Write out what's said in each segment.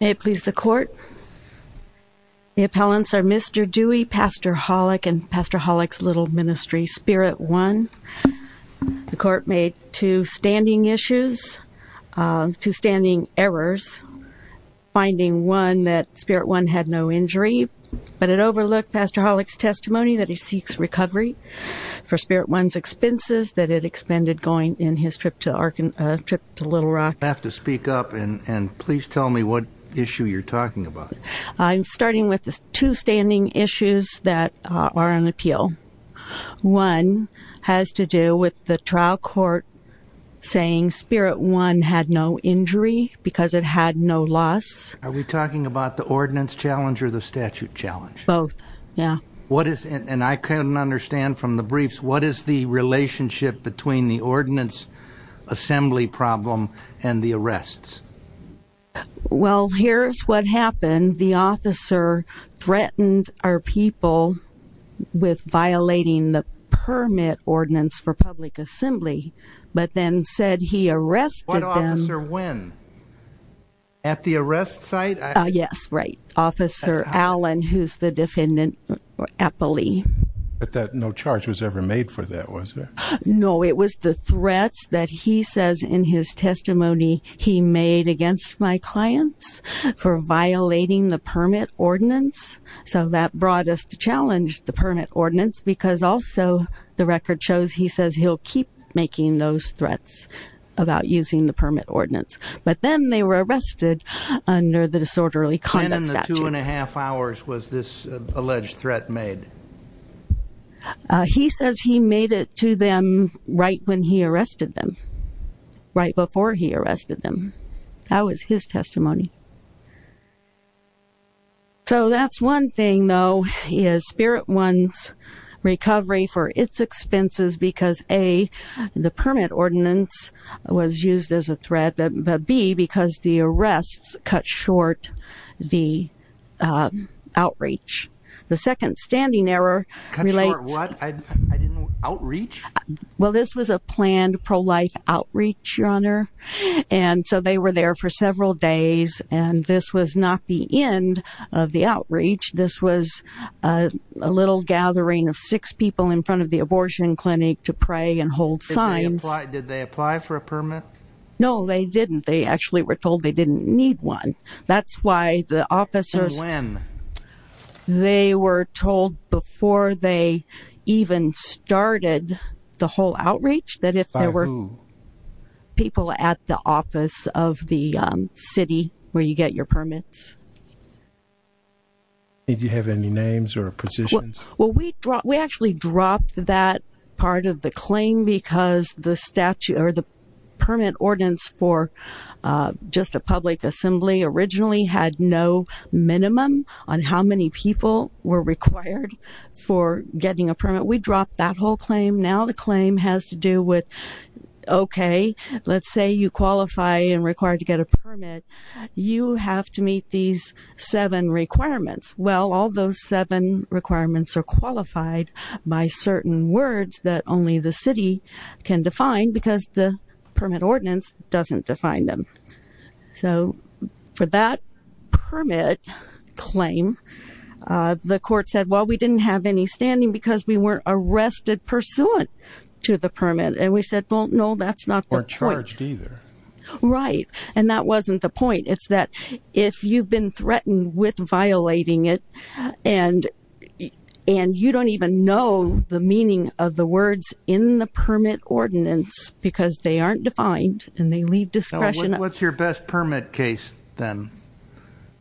May it please the court. The appellants are Mr. Dewey, Pastor Holick, and Pastor Holick's Little Ministry Spirit One. The court made two standing issues, two standing errors, finding one that Spirit One had no injury, but it overlooked Pastor Holick's testimony that he seeks recovery for Spirit One's expenses that it expended going in his trip to Little Rock. I have to speak up and please tell me what issue you're talking about. I'm starting with the two standing issues that are on appeal. One has to do with the trial court saying Spirit One had no injury because it had no loss. Are we talking about the ordinance challenge or the statute challenge? Both, yeah. What is, and I couldn't understand from the briefs, what is the relationship between the Well, here's what happened. The officer threatened our people with violating the permit ordinance for public assembly, but then said he arrested them. What officer, when? At the arrest site? Yes, right. Officer Allen, who's the defendant appellee. But that no charge was ever made for that, was there? No, it was the threats that he says in his testimony he made against my clients for violating the permit ordinance. So that brought us to challenge the permit ordinance because also the record shows he says he'll keep making those threats about using the permit ordinance. But then they were arrested under the disorderly conduct statute. When in the two and a half hours was this alleged threat made? He says he made it to them right when he arrested them, right before he arrested them. That was his testimony. So that's one thing though, is Spirit One's recovery for its expenses because A, the permit ordinance was used as a threat, but B, because the arrests cut short the outreach. The second standing error relates... Cut short what? Outreach? Well, this was a planned pro-life outreach, Your Honor, and so they were there for several days and this was not the end of the outreach. This was a little gathering of six people in front of the abortion clinic to pray and hold signs. Did they apply for a permit? No, they didn't. They actually were told they didn't need one. That's why the officers... When? They were told before they even started the whole outreach that if there were people at the office of the city where you get your permits. Did you have any names or positions? Well, we actually dropped that part of the claim because the statute or the permit ordinance for just a public assembly originally had no minimum on how many people were required for getting a permit. We dropped that whole claim. Now the claim has to do with, okay, let's say you qualify and required to get a permit. You have to meet these seven requirements. Well, all those seven requirements are qualified by certain words that only the city can define because the permit ordinance doesn't define them. So for that permit claim, the court said, well, we didn't have any standing because we weren't arrested pursuant to the permit. And we said, well, no, that's not the point. Or charged either. Right, and that wasn't the point. And you don't even know the meaning of the words in the permit ordinance because they aren't defined and they leave discretion. What's your best permit case then?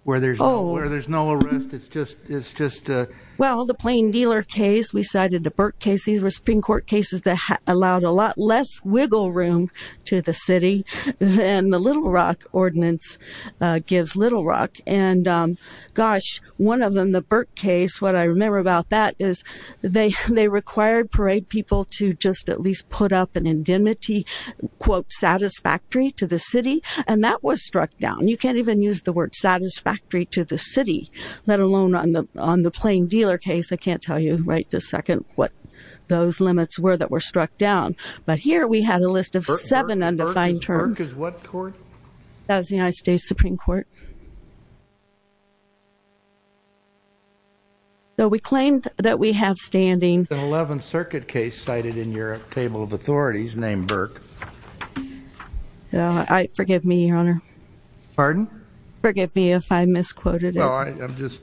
Where there's no arrest, it's just... Well, the Plain Dealer case, we cited the Burke case. These were Supreme Court cases that allowed a lot less wiggle room to the city than the Little Rock ordinance gives Little Rock. And gosh, one of them, the Burke case, what I remember about that is they required parade people to just at least put up an indemnity quote satisfactory to the city. And that was struck down. You can't even use the word satisfactory to the city, let alone on the Plain Dealer case. I can't tell you right this second what those limits were that were struck down. But we claimed that we have standing... The 11th Circuit case cited in your table of authorities named Burke. Forgive me, Your Honor. Pardon? Forgive me if I misquoted it.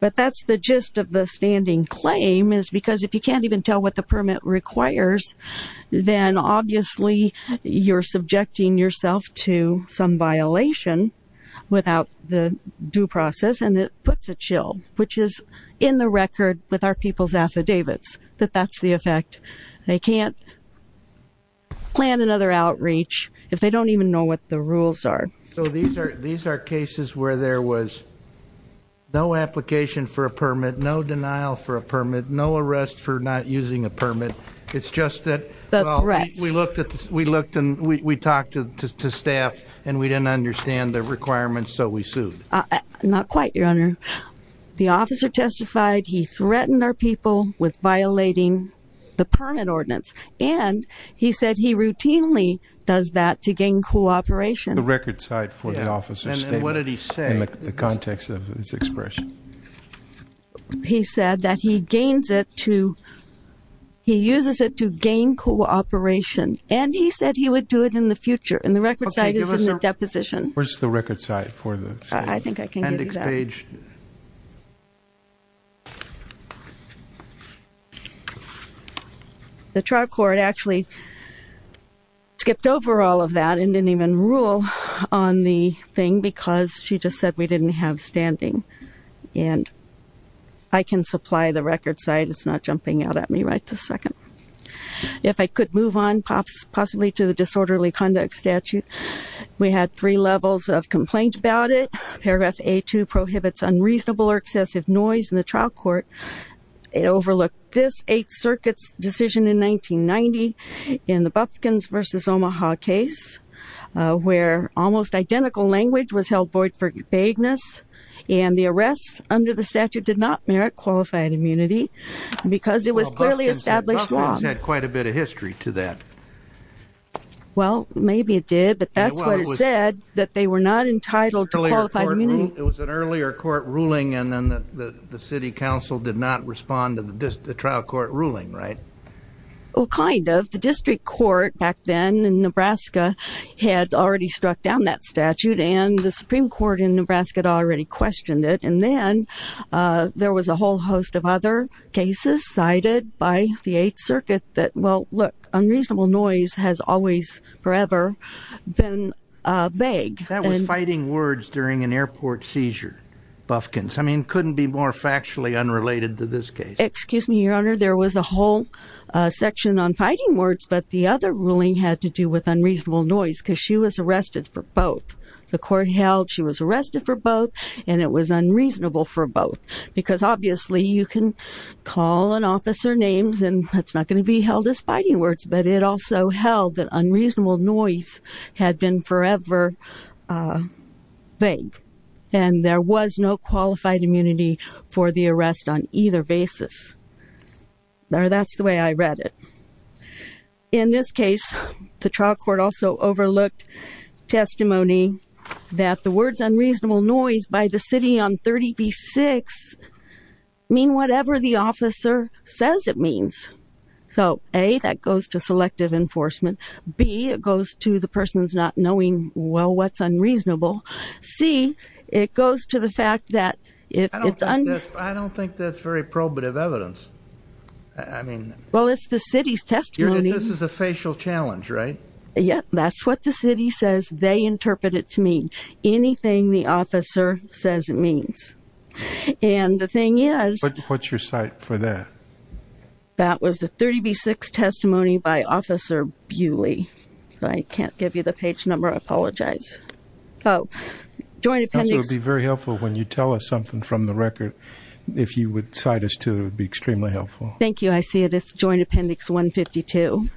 But that's the gist of the standing claim is because if you can't even tell what the permit requires, then obviously you're subjecting yourself to some violation without the due process. And it puts a chill, which is in the record with our people's affidavits, that that's the effect. They can't plan another outreach if they don't even know what the rules are. So these are cases where there was no application for a permit, no denial for a permit, no arrest for not using a permit. It's just that we looked and we talked to staff and we didn't understand the requirements, so we sued. Not quite, Your Honor. The officer testified he threatened our people with violating the permit ordinance. And he said he routinely does that to gain cooperation. The record cite for the officer's statement. And what did he say? In the context of his expression. He said that he gains it to, he uses it to gain cooperation. And he said he would do it in the future. And the record cite is in the deposition. Where's the record cite for the appendix page? The trial court actually skipped over all of that and didn't even rule on the thing because she just said we didn't have standing. And I can supply the record cite. It's not jumping out at me right this second. If I could move on possibly to the disorderly conduct statute. We had three levels of complaint about it. Paragraph A-2 prohibits unreasonable or excessive noise in the trial court. It overlooked this Eighth Circuit's decision in 1990 in the language was held void for vagueness. And the arrest under the statute did not merit qualified immunity. Because it was clearly established law. The government had quite a bit of history to that. Well, maybe it did. But that's what it said. That they were not entitled to qualified immunity. It was an earlier court ruling and then the city council did not respond to the trial court ruling, right? Well, kind of. The district court back then in Nebraska had already struck down that statute and the Supreme Court in Nebraska had already questioned it. And then there was a whole host of other cases cited by the Eighth Circuit that, well, look, unreasonable noise has always forever been vague. That was fighting words during an airport seizure, Bufkins. I mean, couldn't be more factually unrelated to this case. Excuse me, Your Honor, there was a whole section on fighting words, but the other ruling had to do with unreasonable noise. Because she was arrested for both. The court held she was arrested for both and it was unreasonable for both. Because obviously you can call an officer names and it's not going to be held as fighting words. But it also held that unreasonable noise had been forever vague. And there was no qualified immunity for the arrest on either basis. That's the way I read it. In this case, the trial court also overlooked testimony that the words unreasonable noise by the city on 30B-6 mean whatever the officer says it means. So A, that goes to selective enforcement. B, it goes to the person's not knowing, well, what's unreasonable. C, it goes to the fact that if it's- I don't think that's very probative evidence. I mean- Well, it's the city's testimony. This is a facial challenge, right? Yeah, that's what the city says they interpret it to mean, anything the officer says it means. And the thing is- What's your cite for that? That was the 30B-6 testimony by Officer Bewley. I can't give you the page number. I apologize. So, joint appendix- It would be very helpful when you tell us something from the record. If you would cite us to it, it would be extremely helpful. Thank you. I see it. It's joint appendix 152.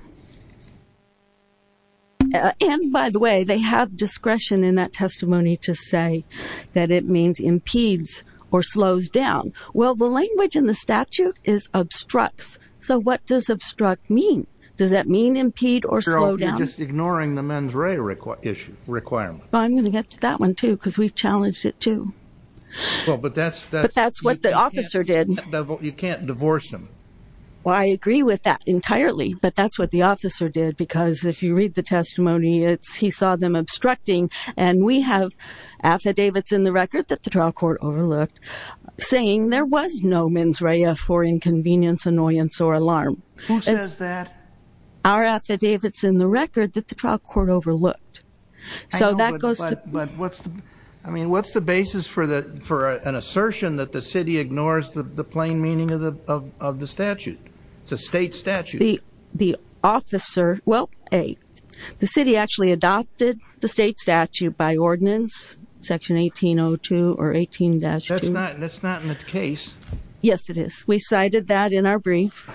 And by the way, they have discretion in that testimony to say that it means impedes or slows down. Well, the language in the statute is obstructs. So, what does obstruct mean? Does that mean impede or slow down? You're just ignoring the mens rea requirement. I'm going to get to that one, too, because we've challenged it, too. But that's what the officer did. You can't divorce them. Well, I agree with that entirely. But that's what the officer did, because if you read the testimony, he saw them obstructing. And we have affidavits in the record that the trial court overlooked saying there was no mens rea for inconvenience, annoyance, or alarm. Who says that? Our affidavits in the record that the trial court overlooked. So, that goes to- I mean, what's the basis for an assertion that the city ignores the plain meaning of the statute? It's a state statute. Well, A, the city actually adopted the state statute by ordinance, section 1802 or 18-2. That's not in the case. Yes, it is. We cited that in our brief.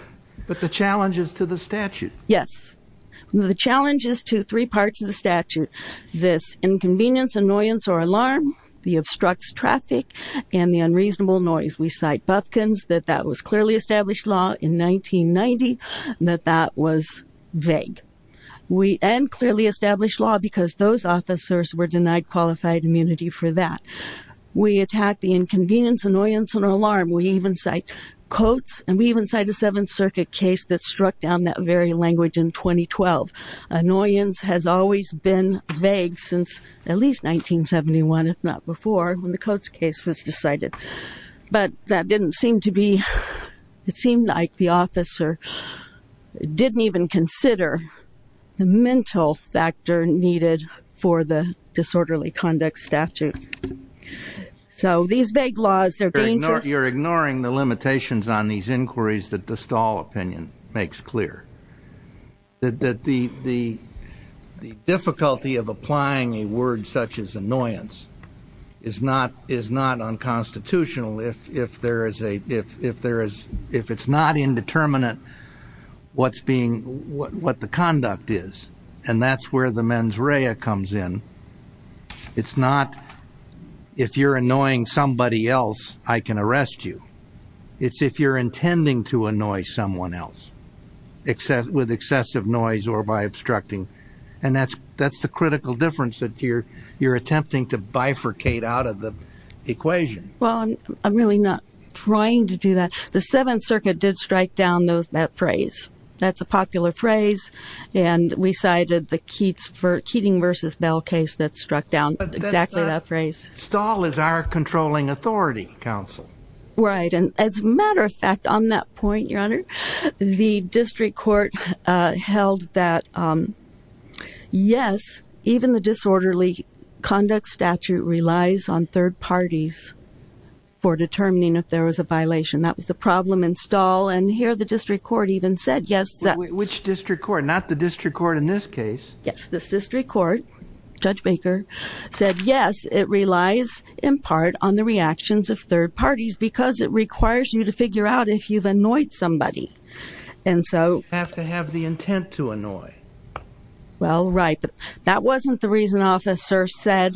But the challenge is to the statute. Yes. The challenge is to three parts of the statute, this inconvenience, annoyance, or alarm, the obstructs traffic, and the unreasonable noise. We cite Bufkins, that that was clearly established law in 1990, that that was vague. And clearly established law, because those officers were denied qualified immunity for that. We attack the inconvenience, annoyance, and alarm. We even cite Coates, and we even cite a Seventh Circuit case that struck down that very language in 2012. Annoyance has always been vague since at least 1971, if not before, when the Coates case was decided. But that didn't seem to be, it seemed like the officer didn't even consider the mental factor needed for the disorderly conduct statute. So these vague laws, they're dangerous. You're ignoring the limitations on these inquiries that the Stahl opinion makes clear. That the difficulty of applying a word such as annoyance is not unconstitutional if it's not indeterminate what the conduct is. And that's where the mens rea comes in. It's not, if you're annoying somebody else, I can arrest you. It's if you're intending to annoy someone else with excessive noise or by obstructing. And that's the critical difference that you're attempting to bifurcate out of the equation. Well, I'm really not trying to do that. The Seventh Circuit did strike down that phrase. That's a popular phrase. And we cited the Keating v. Bell case that struck down exactly that phrase. Stahl is our controlling authority, counsel. Right. And as a matter of fact, on that point, Your Honor, the district court held that yes, even the disorderly conduct statute relies on third parties for determining if there was a violation. That was the problem in Stahl. And here the district court even said yes. Which district court? Not the district court in this case. Yes. The district court, Judge Baker, said yes, it relies in part on the reactions of third parties because it requires you to figure out if you've annoyed somebody. And so. You have to have the intent to annoy. Well, right. That wasn't the reason officer said.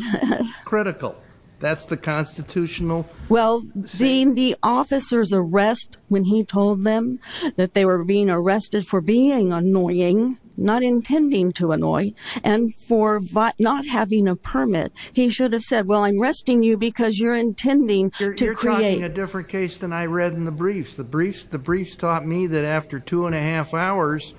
Critical. That's the constitutional. Well, being the officer's arrest when he told them that they were being arrested for being annoying, not intending to annoy, and for not having a permit, he should have said, well, I'm arresting you because you're intending to create. You're talking a different case than I read in the briefs. The briefs. The briefs taught me that after two and a half hours.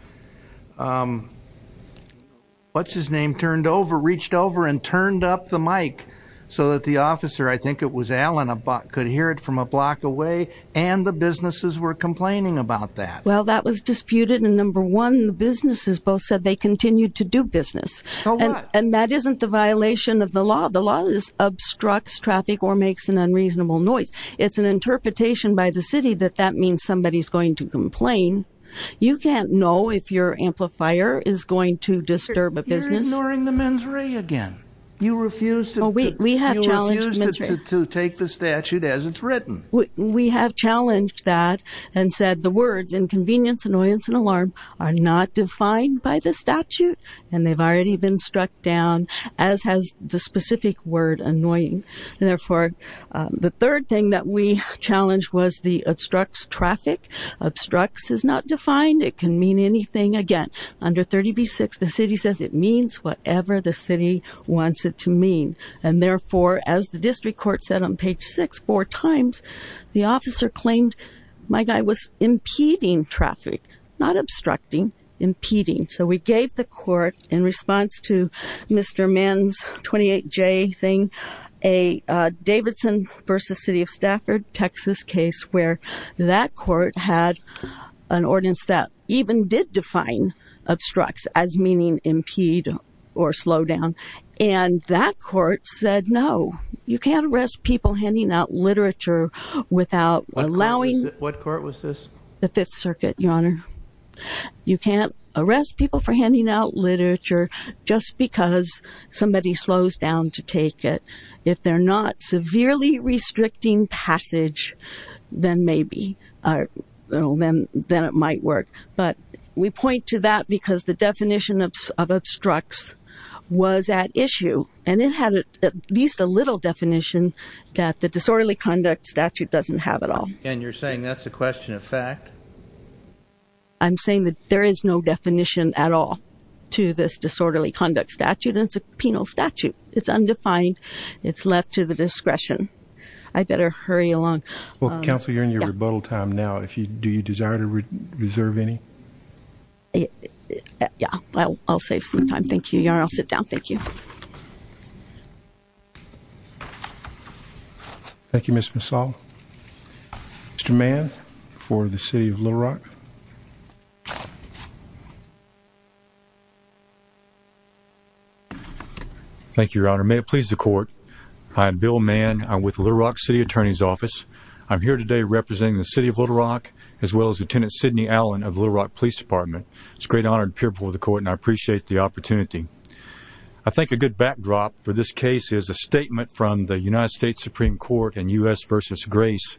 What's his name? Turned over, reached over and turned up the mic so that the officer, I think it was Alan, could hear it from a block away. And the businesses were complaining about that. Well, that was disputed. And number one, the businesses both said they continued to do business. And that isn't the violation of the law. The law is obstructs traffic or makes an unreasonable noise. It's an interpretation by the city that that means somebody is going to complain. You can't know if your amplifier is going to disturb a business. You're ignoring the mens re again. You refuse to take the statute as it's written. We have challenged that and said the words inconvenience, annoyance and alarm are not defined by the statute. And they've already been struck down, as has the specific word annoying. And, therefore, the third thing that we challenged was the obstructs traffic. Obstructs is not defined. It can mean anything. Again, under 30B-6, the city says it means whatever the city wants it to mean. And, therefore, as the district court said on page six four times, the officer claimed my guy was impeding traffic. Not obstructing. Impeding. So we gave the court, in response to Mr. Men's 28J thing, a Davidson v. City of Stafford, Texas case where that court had an ordinance that even did define obstructs as meaning impede or slow down. And that court said, no, you can't arrest people handing out literature without allowing. What court was this? The Fifth Circuit, Your Honor. You can't arrest people for handing out literature just because somebody slows down to take it. If they're not severely restricting passage, then maybe, then it might work. But we point to that because the definition of obstructs was at issue. And it had at least a little definition that the disorderly conduct statute doesn't have at all. And you're saying that's a question of fact? I'm saying that there is no definition at all to this disorderly conduct statute. And it's a penal statute. It's undefined. It's left to the discretion. I better hurry along. Well, counsel, you're in your rebuttal time now. Do you desire to reserve any? Yeah. I'll save some time. Thank you, Your Honor. I'll sit down. Thank you. Thank you, Mr. Massall. Mr. Mann for the city of Little Rock. Thank you, Your Honor. May it please the court. I'm Bill Mann. I'm with Little Rock City Attorney's Office. I'm here today representing the city of Little Rock as well as Lieutenant Sidney Allen of the Little Rock Police Department. It's a great honor to appear before the court, and I appreciate the opportunity. I think a good backdrop for this case is a statement from the United States Supreme Court in U.S. v. Grace,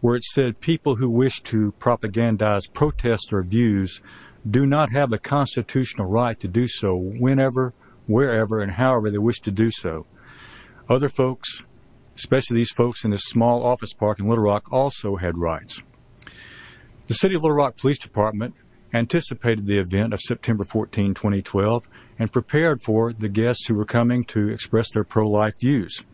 where it said people who wish to propagandize protests or views do not have the constitutional right to do so whenever, wherever, and however they wish to do so. Other folks, especially these folks in this small office park in Little Rock, also had rights. The city of Little Rock Police Department anticipated the event of September 14, 2012, and prepared for the guests who were coming to express their pro-life views.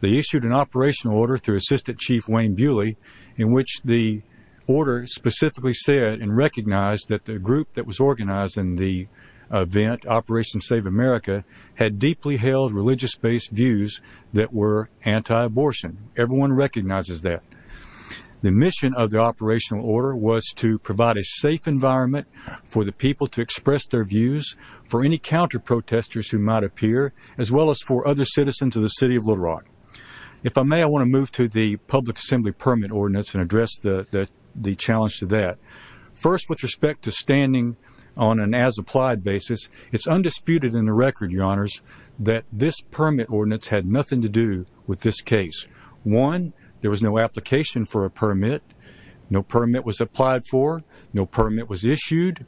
They issued an operational order through Assistant Chief Wayne Bewley in which the order specifically said and recognized that the group that was organizing the event, Operation Save America, had deeply held religious-based views that were anti-abortion. Everyone recognizes that. The mission of the operational order was to provide a safe environment for the people to express their views, for any counter-protesters who might appear, as well as for other citizens of the city of Little Rock. If I may, I want to move to the public assembly permit ordinance and address the challenge to that. First, with respect to standing on an as-applied basis, it's undisputed in the record, Your Honors, that this permit ordinance had nothing to do with this case. One, there was no application for a permit. No permit was applied for. No permit was issued.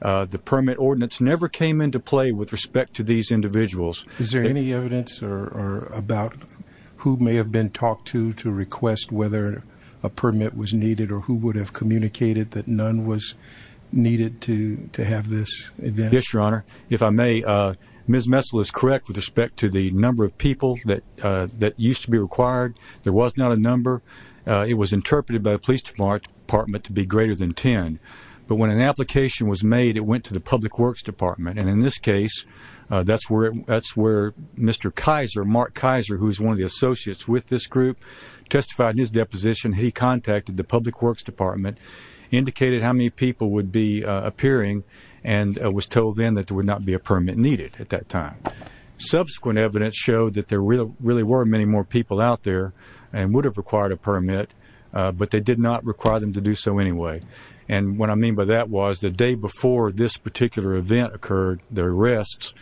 The permit ordinance never came into play with respect to these individuals. Is there any evidence about who may have been talked to to request whether a permit was needed or who would have communicated that none was needed to have this event? Yes, Your Honor. If I may, Ms. Messel is correct with respect to the number of people that used to be required. There was not a number. It was interpreted by the Police Department to be greater than 10. But when an application was made, it went to the Public Works Department. And in this case, that's where Mr. Kaiser, Mark Kaiser, who is one of the associates with this group, testified in his deposition that he contacted the Public Works Department, indicated how many people would be appearing, and was told then that there would not be a permit needed at that time. Subsequent evidence showed that there really were many more people out there and would have required a permit, but they did not require them to do so anyway. And what I mean by that was the day before this particular event occurred, the arrests,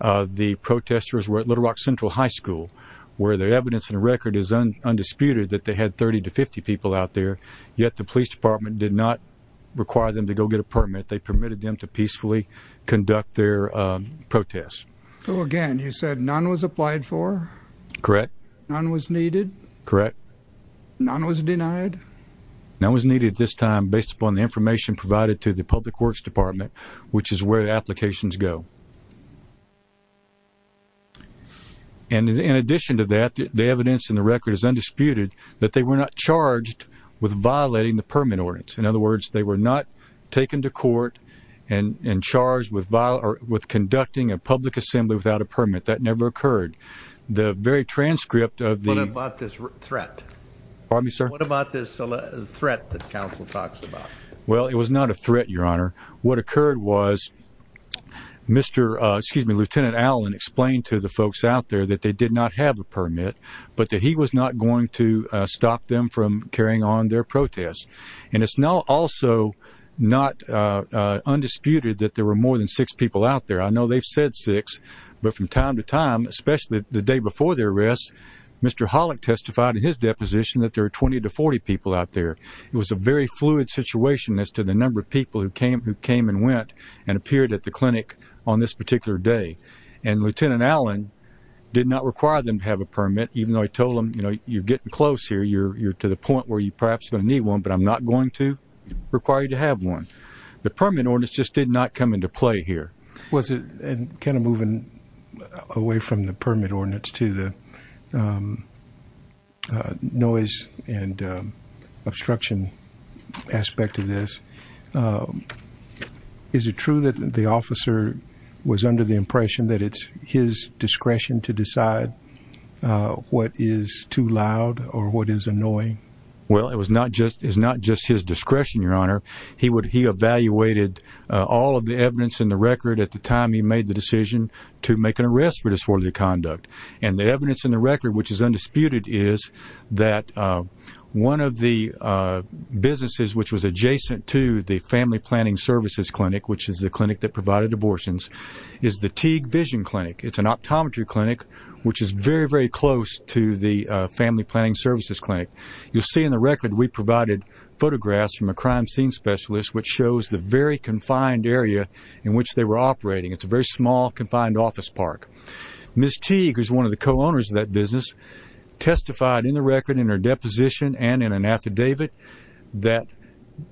the protesters were at Little Rock Central High School, where the evidence in the record is undisputed that they had 30 to 50 people out there, yet the Police Department did not require them to go get a permit. They permitted them to peacefully conduct their protests. So again, you said none was applied for? Correct. None was needed? Correct. None was denied? None was needed at this time, based upon the information provided to the Public Works Department, which is where the applications go. And in addition to that, the evidence in the record is undisputed that they were not charged with violating the permit ordinance. In other words, they were not taken to court and charged with conducting a public assembly without a permit. That never occurred. What about this threat? Pardon me, sir? What about this threat that counsel talks about? Well, it was not a threat, Your Honor. What occurred was Lieutenant Allen explained to the folks out there that they did not have a permit, but that he was not going to stop them from carrying on their protests. And it's also not undisputed that there were more than six people out there. I know they've said six, but from time to time, especially the day before the arrest, Mr. Hollick testified in his deposition that there were 20 to 40 people out there. It was a very fluid situation as to the number of people who came and went and appeared at the clinic on this particular day. And Lieutenant Allen did not require them to have a permit, even though he told them, you know, you're getting close here. You're to the point where you're perhaps going to need one, but I'm not going to require you to have one. The permit ordinance just did not come into play here. And kind of moving away from the permit ordinance to the noise and obstruction aspect of this, is it true that the officer was under the impression that it's his discretion to decide what is too loud or what is annoying? Well, it was not just his discretion, Your Honor. He evaluated all of the evidence in the record at the time he made the decision to make an arrest for disorderly conduct. And the evidence in the record, which is undisputed, is that one of the businesses which was adjacent to the Family Planning Services Clinic, which is the clinic that provided abortions, is the Teague Vision Clinic. It's an optometry clinic which is very, very close to the Family Planning Services Clinic. You'll see in the record we provided photographs from a crime scene specialist which shows the very confined area in which they were operating. It's a very small, confined office park. Ms. Teague, who's one of the co-owners of that business, testified in the record, in her deposition and in an affidavit, that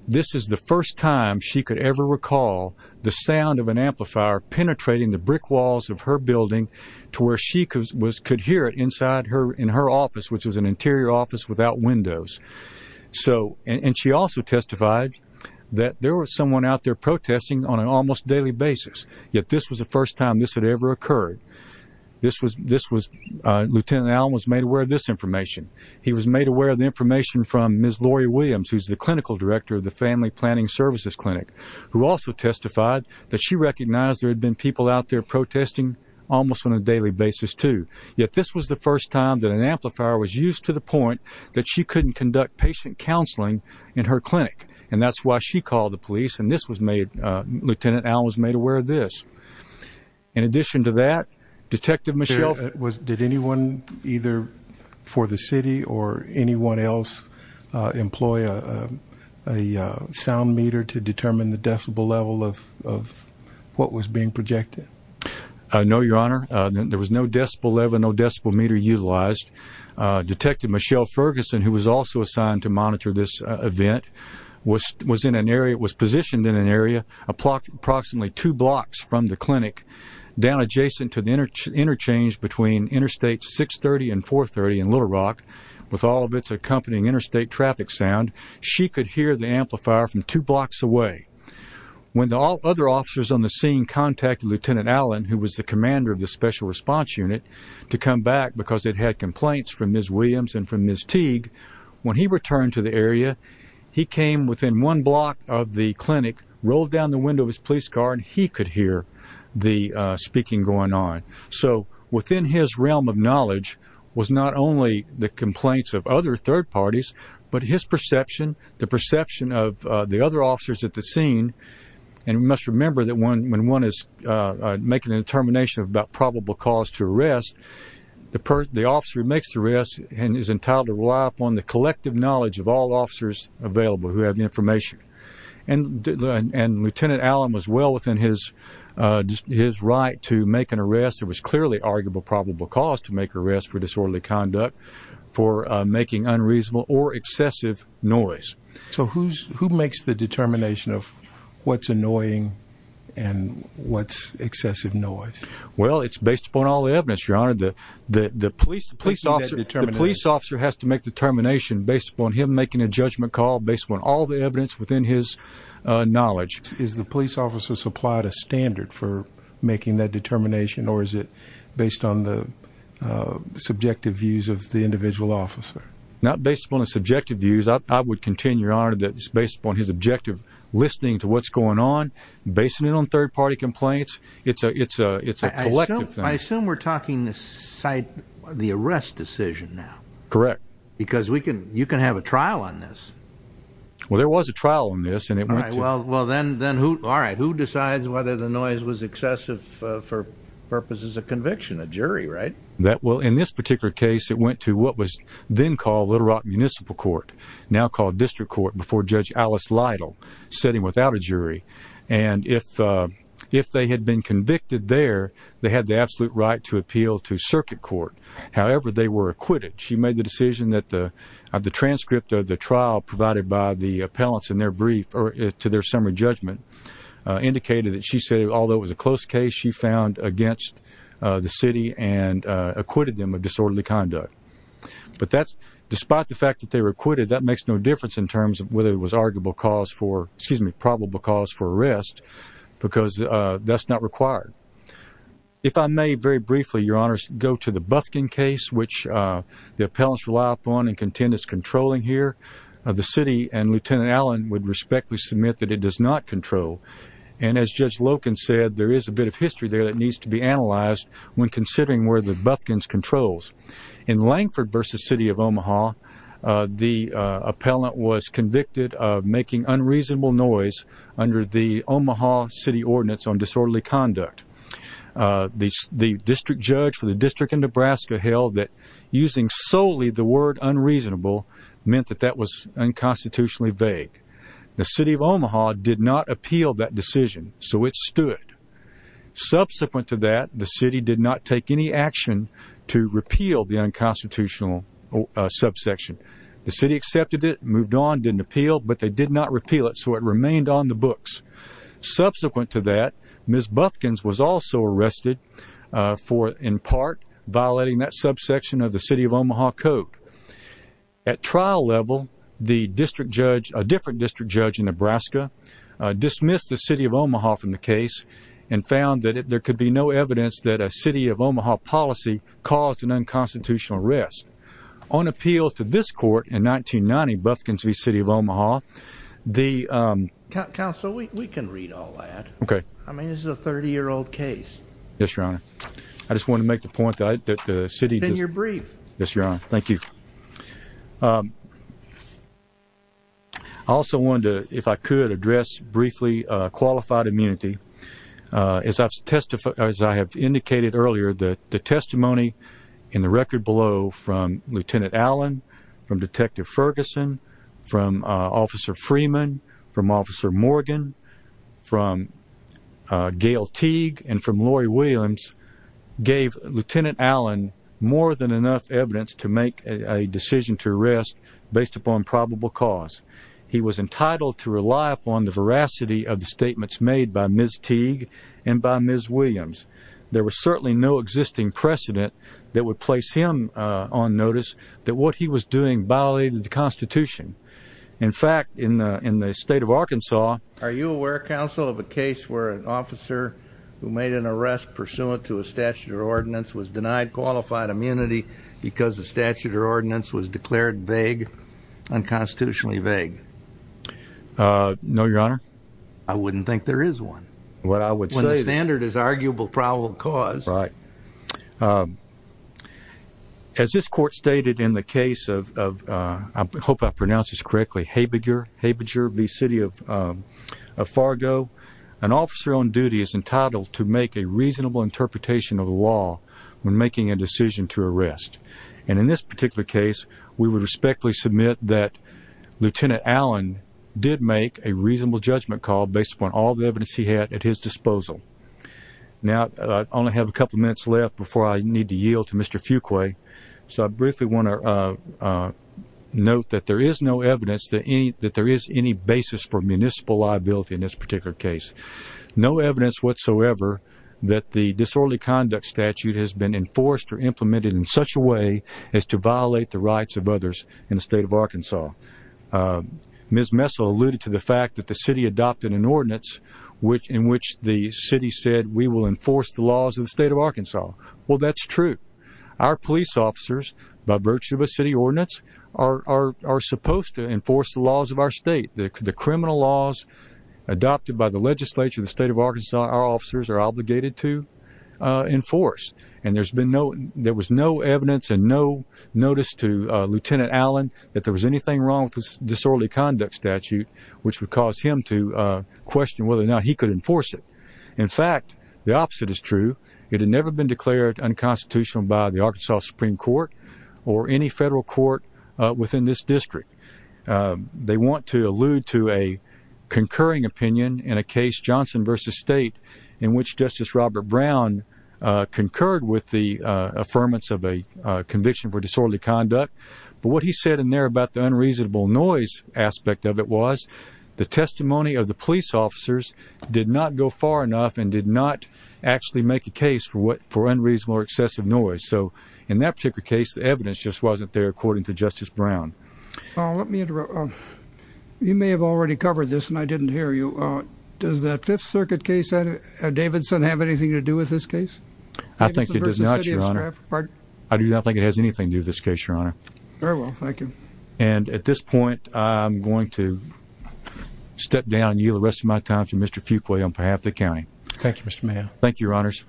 this is the first time she could ever recall the sound of an amplifier penetrating the brick walls of her building to where she could hear it in her office, which was an interior office without windows. And she also testified that there was someone out there protesting on an almost daily basis, yet this was the first time this had ever occurred. Lieutenant Allen was made aware of this information. He was made aware of the information from Ms. Lori Williams, who's the clinical director of the Family Planning Services Clinic, who also testified that she recognized there had been people out there protesting almost on a daily basis too. Yet this was the first time that an amplifier was used to the point that she couldn't conduct patient counseling in her clinic, and that's why she called the police, and this was made, Lieutenant Allen was made aware of this. In addition to that, Detective Michelle... Did anyone either for the city or anyone else employ a sound meter to determine the decibel level of what was being projected? No, Your Honor. There was no decibel level, no decibel meter utilized. Detective Michelle Ferguson, who was also assigned to monitor this event, was positioned in an area approximately two blocks from the clinic, down adjacent to the interchange between Interstate 630 and 430 in Little Rock, with all of its accompanying interstate traffic sound. She could hear the amplifier from two blocks away. When the other officers on the scene contacted Lieutenant Allen, who was the commander of the Special Response Unit, to come back because it had complaints from Ms. Williams and from Ms. Teague, when he returned to the area, he came within one block of the clinic, rolled down the window of his police car, and he could hear the speaking going on. So within his realm of knowledge was not only the complaints of other third parties, but his perception, the perception of the other officers at the scene, and we must remember that when one is making a determination about probable cause to arrest, the officer who makes the arrest is entitled to rely upon the collective knowledge of all officers available who have the information. And Lieutenant Allen was well within his right to make an arrest. There was clearly arguable probable cause to make arrests for disorderly conduct, for making unreasonable or excessive noise. So who makes the determination of what's annoying and what's excessive noise? Well, it's based upon all the evidence, Your Honor. The police officer has to make determination based upon him making a judgment call, based upon all the evidence within his knowledge. Is the police officer supplied a standard for making that determination, or is it based on the subjective views of the individual officer? Not based upon the subjective views. I would contend, Your Honor, that it's based upon his objective listening to what's going on, basing it on third-party complaints. It's a collective thing. I assume we're talking the arrest decision now. Correct. Because you can have a trial on this. Well, there was a trial on this, and it went to— All right. Who decides whether the noise was excessive for purposes of conviction? A jury, right? In this particular case, it went to what was then called Little Rock Municipal Court, now called District Court, before Judge Alice Lytle, sitting without a jury. And if they had been convicted there, they had the absolute right to appeal to circuit court. However, they were acquitted. She made the decision that the transcript of the trial provided by the appellants in their brief to their summary judgment indicated that she said, although it was a close case, she found against the city and acquitted them of disorderly conduct. But that's—despite the fact that they were acquitted, that makes no difference in terms of whether it was arguable cause for— excuse me, probable cause for arrest, because that's not required. If I may, very briefly, Your Honors, go to the Bufkin case, which the appellants rely upon and contend it's controlling here. The city and Lieutenant Allen would respectfully submit that it does not control. And as Judge Loken said, there is a bit of history there that needs to be analyzed when considering where the Bufkins controls. In Langford v. City of Omaha, the appellant was convicted of making unreasonable noise under the Omaha City Ordinance on Disorderly Conduct. The district judge for the district in Nebraska held that using solely the word unreasonable meant that that was unconstitutionally vague. The City of Omaha did not appeal that decision, so it stood. Subsequent to that, the city did not take any action to repeal the unconstitutional subsection. The city accepted it, moved on, didn't appeal, but they did not repeal it, so it remained on the books. Subsequent to that, Ms. Bufkins was also arrested for, in part, violating that subsection of the City of Omaha Code. At trial level, the district judge—a different district judge in Nebraska dismissed the City of Omaha from the case and found that there could be no evidence that a City of Omaha policy caused an unconstitutional arrest. On appeal to this court in 1990, Bufkins v. City of Omaha, the— Counsel, we can read all that. Okay. I mean, this is a 30-year-old case. Yes, Your Honor. I just wanted to make the point that the city— Then you're briefed. Yes, Your Honor. Thank you. I also wanted to, if I could, address briefly qualified immunity. As I have indicated earlier, the testimony in the record below from Lieutenant Allen, from Detective Ferguson, from Officer Freeman, from Officer Morgan, from Gail Teague, and from Lori Williams gave Lieutenant Allen more than enough evidence to make a decision to arrest based upon probable cause. He was entitled to rely upon the veracity of the statements made by Ms. Teague and by Ms. Williams. There was certainly no existing precedent that would place him on notice that what he was doing violated the Constitution. In fact, in the state of Arkansas— pursuant to a statute or ordinance, was denied qualified immunity because the statute or ordinance was declared vague, unconstitutionally vague. No, Your Honor. I wouldn't think there is one. What I would say— When the standard is arguable probable cause. Right. As this Court stated in the case of—I hope I pronounced this correctly—Habeger v. City of Fargo, an officer on duty is entitled to make a reasonable interpretation of the law when making a decision to arrest. And in this particular case, we would respectfully submit that Lieutenant Allen did make a reasonable judgment call based upon all the evidence he had at his disposal. Now, I only have a couple minutes left before I need to yield to Mr. Fuqua. So I briefly want to note that there is no evidence that there is any basis for municipal liability in this particular case. No evidence whatsoever that the disorderly conduct statute has been enforced or implemented in such a way as to violate the rights of others in the state of Arkansas. Ms. Messel alluded to the fact that the city adopted an ordinance in which the city said, we will enforce the laws of the state of Arkansas. Well, that's true. Our police officers, by virtue of a city ordinance, are supposed to enforce the laws of our state. The criminal laws adopted by the legislature of the state of Arkansas, our officers are obligated to enforce. And there was no evidence and no notice to Lieutenant Allen that there was anything wrong with this disorderly conduct statute, which would cause him to question whether or not he could enforce it. In fact, the opposite is true. It had never been declared unconstitutional by the Arkansas Supreme Court or any federal court within this district. They want to allude to a concurring opinion in a case, Johnson v. State, in which Justice Robert Brown concurred with the affirmance of a conviction for disorderly conduct. But what he said in there about the unreasonable noise aspect of it was the testimony of the police officers did not go far enough and did not actually make a case for unreasonable or excessive noise. So in that particular case, the evidence just wasn't there, according to Justice Brown. Let me interrupt. You may have already covered this, and I didn't hear you. Does that Fifth Circuit case, Davidson, have anything to do with this case? I think it does not, Your Honor. I do not think it has anything to do with this case, Your Honor. Very well. Thank you. And at this point, I'm going to step down and yield the rest of my time to Mr. Fuqua on behalf of the county. Thank you, Mr. Mayor. Thank you, Your Honors.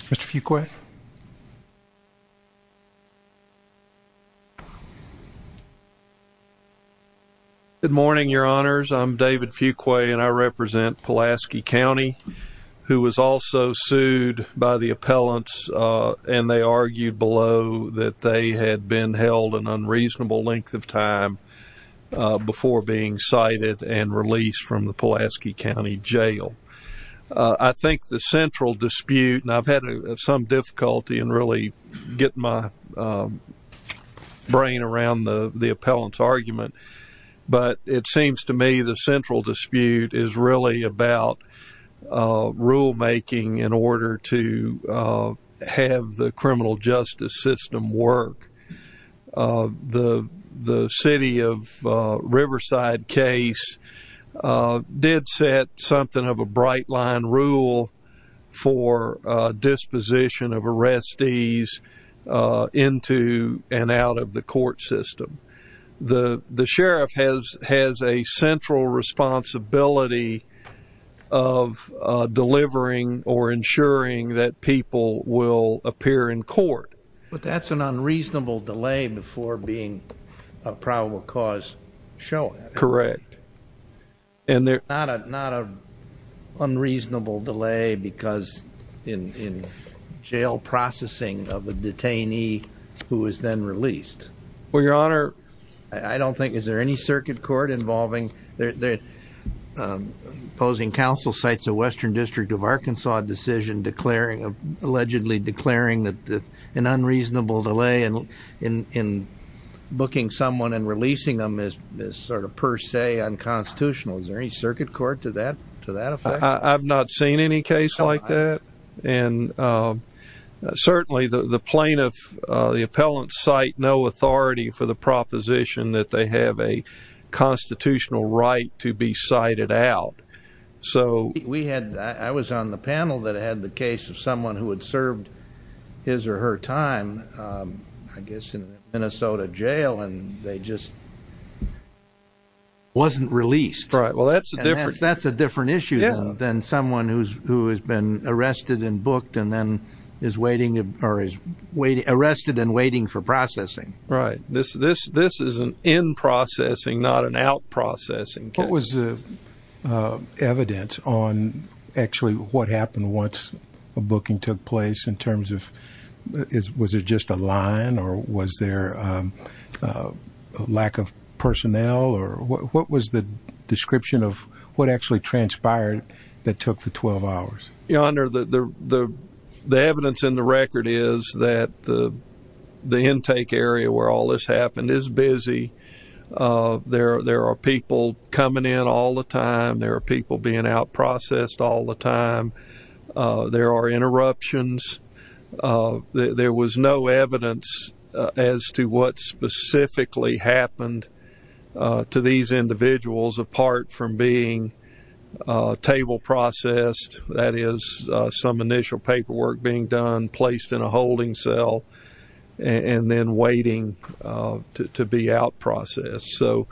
Mr. Fuqua? Good morning, Your Honors. I'm David Fuqua, and I represent Pulaski County, who was also sued by the appellants, and they argued below that they had been held an unreasonable length of time before being cited and released from the Pulaski County Jail. I think the central dispute, and I've had some difficulty in really getting my brain around the appellant's argument, but it seems to me the central dispute is really about rulemaking in order to have the criminal justice system work. The city of Riverside case did set something of a bright-line rule for disposition of arrestees into and out of the court system. The sheriff has a central responsibility of delivering or ensuring that people will appear in court. But that's an unreasonable delay before being a probable cause showing. Correct. Not an unreasonable delay because in jail processing of a detainee who is then released. Well, Your Honor, I don't think there's any circuit court involving opposing counsel cites a Western District of Arkansas decision allegedly declaring that an unreasonable delay in booking someone and releasing them is sort of per se unconstitutional. Is there any circuit court to that effect? I've not seen any case like that. Certainly the plaintiff, the appellant, cite no authority for the proposition that they have a constitutional right to be cited out. I was on the panel that had the case of someone who had served his or her time, I guess, in a Minnesota jail, and they just wasn't released. Right. Well, that's a different issue than someone who has been arrested and booked and then is arrested and waiting for processing. Right. This is an in-processing, not an out-processing case. What was the evidence on actually what happened once a booking took place in terms of was it just a line or was there a lack of personnel? What was the description of what actually transpired that took the 12 hours? Your Honor, the evidence in the record is that the intake area where all this happened is busy. There are people coming in all the time. There are people being out-processed all the time. There are interruptions. There was no evidence as to what specifically happened to these individuals apart from being table-processed, that is, some initial paperwork being done, being placed in a holding cell, and then waiting to be out-processed. So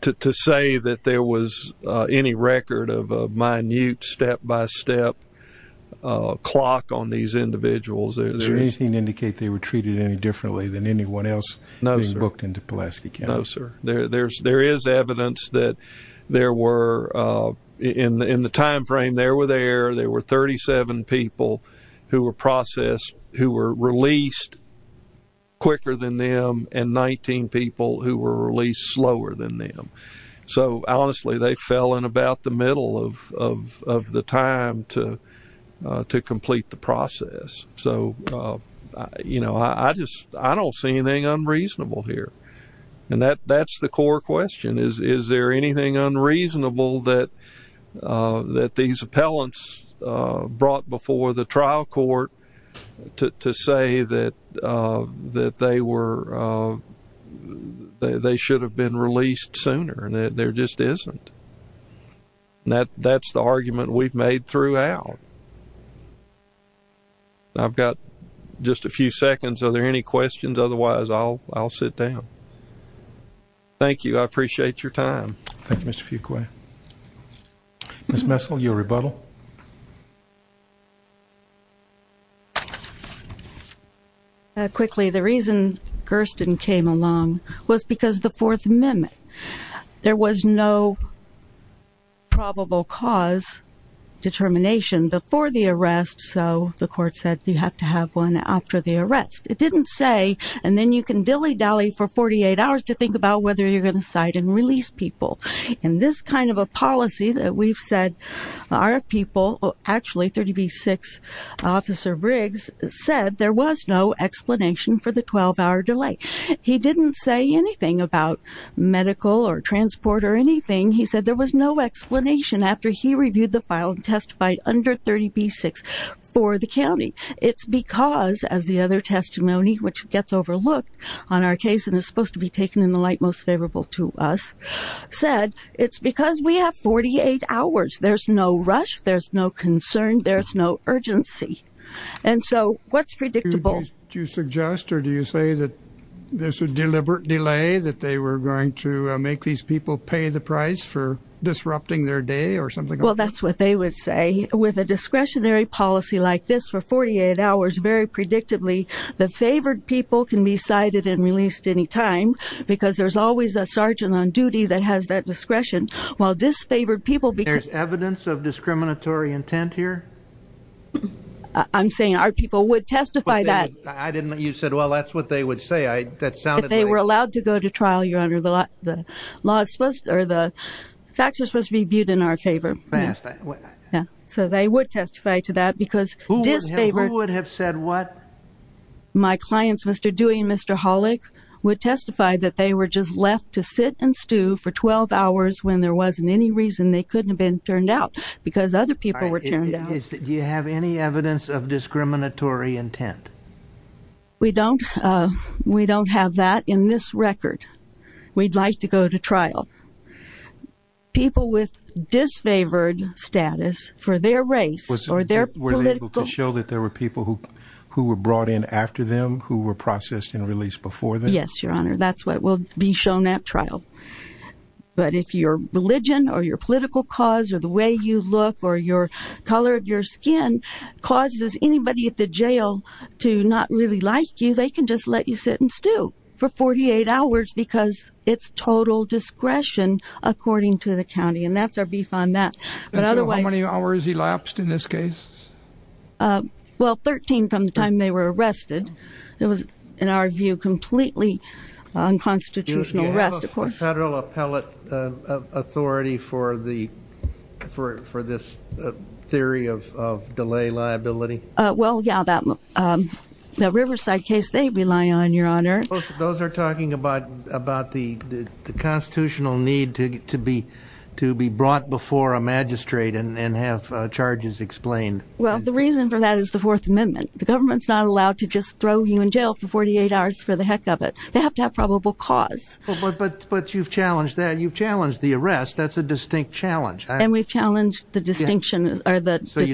to say that there was any record of a minute step-by-step clock on these individuals. Does anything indicate they were treated any differently than anyone else being booked into Pulaski County? No, sir. There is evidence that there were, in the time frame they were there, there were 37 people who were released quicker than them and 19 people who were released slower than them. So honestly, they fell in about the middle of the time to complete the process. So I don't see anything unreasonable here. And that's the core question. Is there anything unreasonable that these appellants brought before the trial court to say that they should have been released sooner and that there just isn't? That's the argument we've made throughout. I've got just a few seconds. Are there any questions? Otherwise, I'll sit down. Thank you. I appreciate your time. Thank you, Mr. Fuqua. Ms. Messel, your rebuttal. Quickly, the reason Gersten came along was because of the Fourth Amendment. There was no probable cause determination before the arrest, so the court said you have to have one after the arrest. It didn't say, and then you can dilly-dally for 48 hours to think about whether you're going to cite and release people. And this kind of a policy that we've said our people, actually 30B-6 Officer Briggs, said there was no explanation for the 12-hour delay. He didn't say anything about medical or transport or anything. He said there was no explanation after he reviewed the file and testified under 30B-6 for the county. It's because, as the other testimony, which gets overlooked on our case and is supposed to be taken in the light most favorable to us, said it's because we have 48 hours. There's no rush. There's no concern. There's no urgency. And so what's predictable? Do you suggest or do you say that there's a deliberate delay, that they were going to make these people pay the price for disrupting their day or something like that? Well, that's what they would say. With a discretionary policy like this, for 48 hours, very predictably, the favored people can be cited and released any time because there's always a sergeant on duty that has that discretion, while disfavored people because... There's evidence of discriminatory intent here? I'm saying our people would testify that. You said, well, that's what they would say. That sounded like... If they were allowed to go to trial, Your Honor, the facts are supposed to be viewed in our favor. So they would testify to that because disfavored... Who would have said what? My clients, Mr. Dewey and Mr. Hollick, would testify that they were just left to sit and stew for 12 hours when there wasn't any reason they couldn't have been turned out because other people were turned out. Do you have any evidence of discriminatory intent? We don't have that in this record. We'd like to go to trial. People with disfavored status for their race or their political... Were they able to show that there were people who were brought in after them who were processed and released before them? Yes, Your Honor, that's what will be shown at trial. But if your religion or your political cause or the way you look or the color of your skin causes anybody at the jail to not really like you, they can just let you sit and stew for 48 hours because it's total discretion according to the county, and that's our beef on that. And so how many hours elapsed in this case? Well, 13 from the time they were arrested. It was, in our view, completely unconstitutional arrest, of course. Do you have a federal appellate authority for this theory of delay liability? Well, yeah, that Riverside case they rely on, Your Honor. Those are talking about the constitutional need to be brought before a magistrate and have charges explained. Well, the reason for that is the Fourth Amendment. The government's not allowed to just throw you in jail for 48 hours for the heck of it. They have to have probable cause. But you've challenged that. You've challenged the arrest. That's a distinct challenge. And we've challenged the detention as well. So you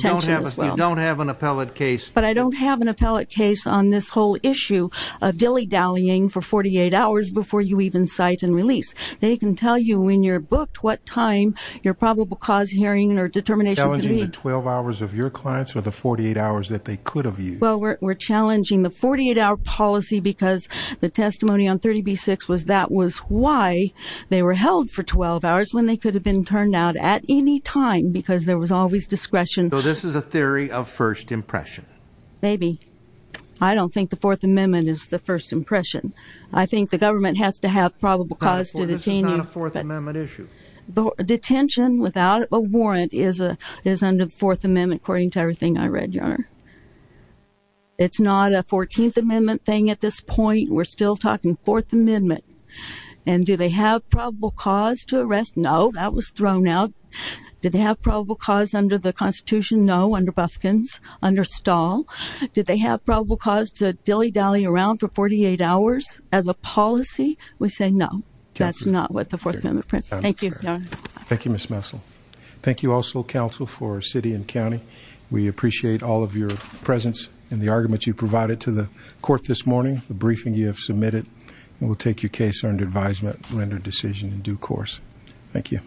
don't have an appellate case. But I don't have an appellate case on this whole issue of dilly-dallying for 48 hours before you even cite and release. They can tell you when you're booked, what time your probable cause hearing or determination can be. Challenging the 12 hours of your clients or the 48 hours that they could have used? Well, we're challenging the 48-hour policy because the testimony on 30b-6 was that was why they were held for 12 hours when they could have been turned out at any time because there was always discretion. So this is a theory of first impression? Maybe. I don't think the Fourth Amendment is the first impression. I think the government has to have probable cause to detain you. This is not a Fourth Amendment issue. Detention without a warrant is under the Fourth Amendment, according to everything I read, Your Honor. It's not a Fourteenth Amendment thing at this point. We're still talking Fourth Amendment. And do they have probable cause to arrest? No. That was thrown out. Do they have probable cause under the Constitution? No. Under Bufkin's? Under Stahl? Do they have probable cause to dilly-dally around for 48 hours as a policy? We say no. That's not what the Fourth Amendment prints. Thank you, Your Honor. Thank you, Ms. Messel. Thank you also, counsel, for city and county. We appreciate all of your presence and the arguments you provided to the court this morning, the briefing you have submitted, and we'll take your case under advisement and render a decision in due course. Thank you.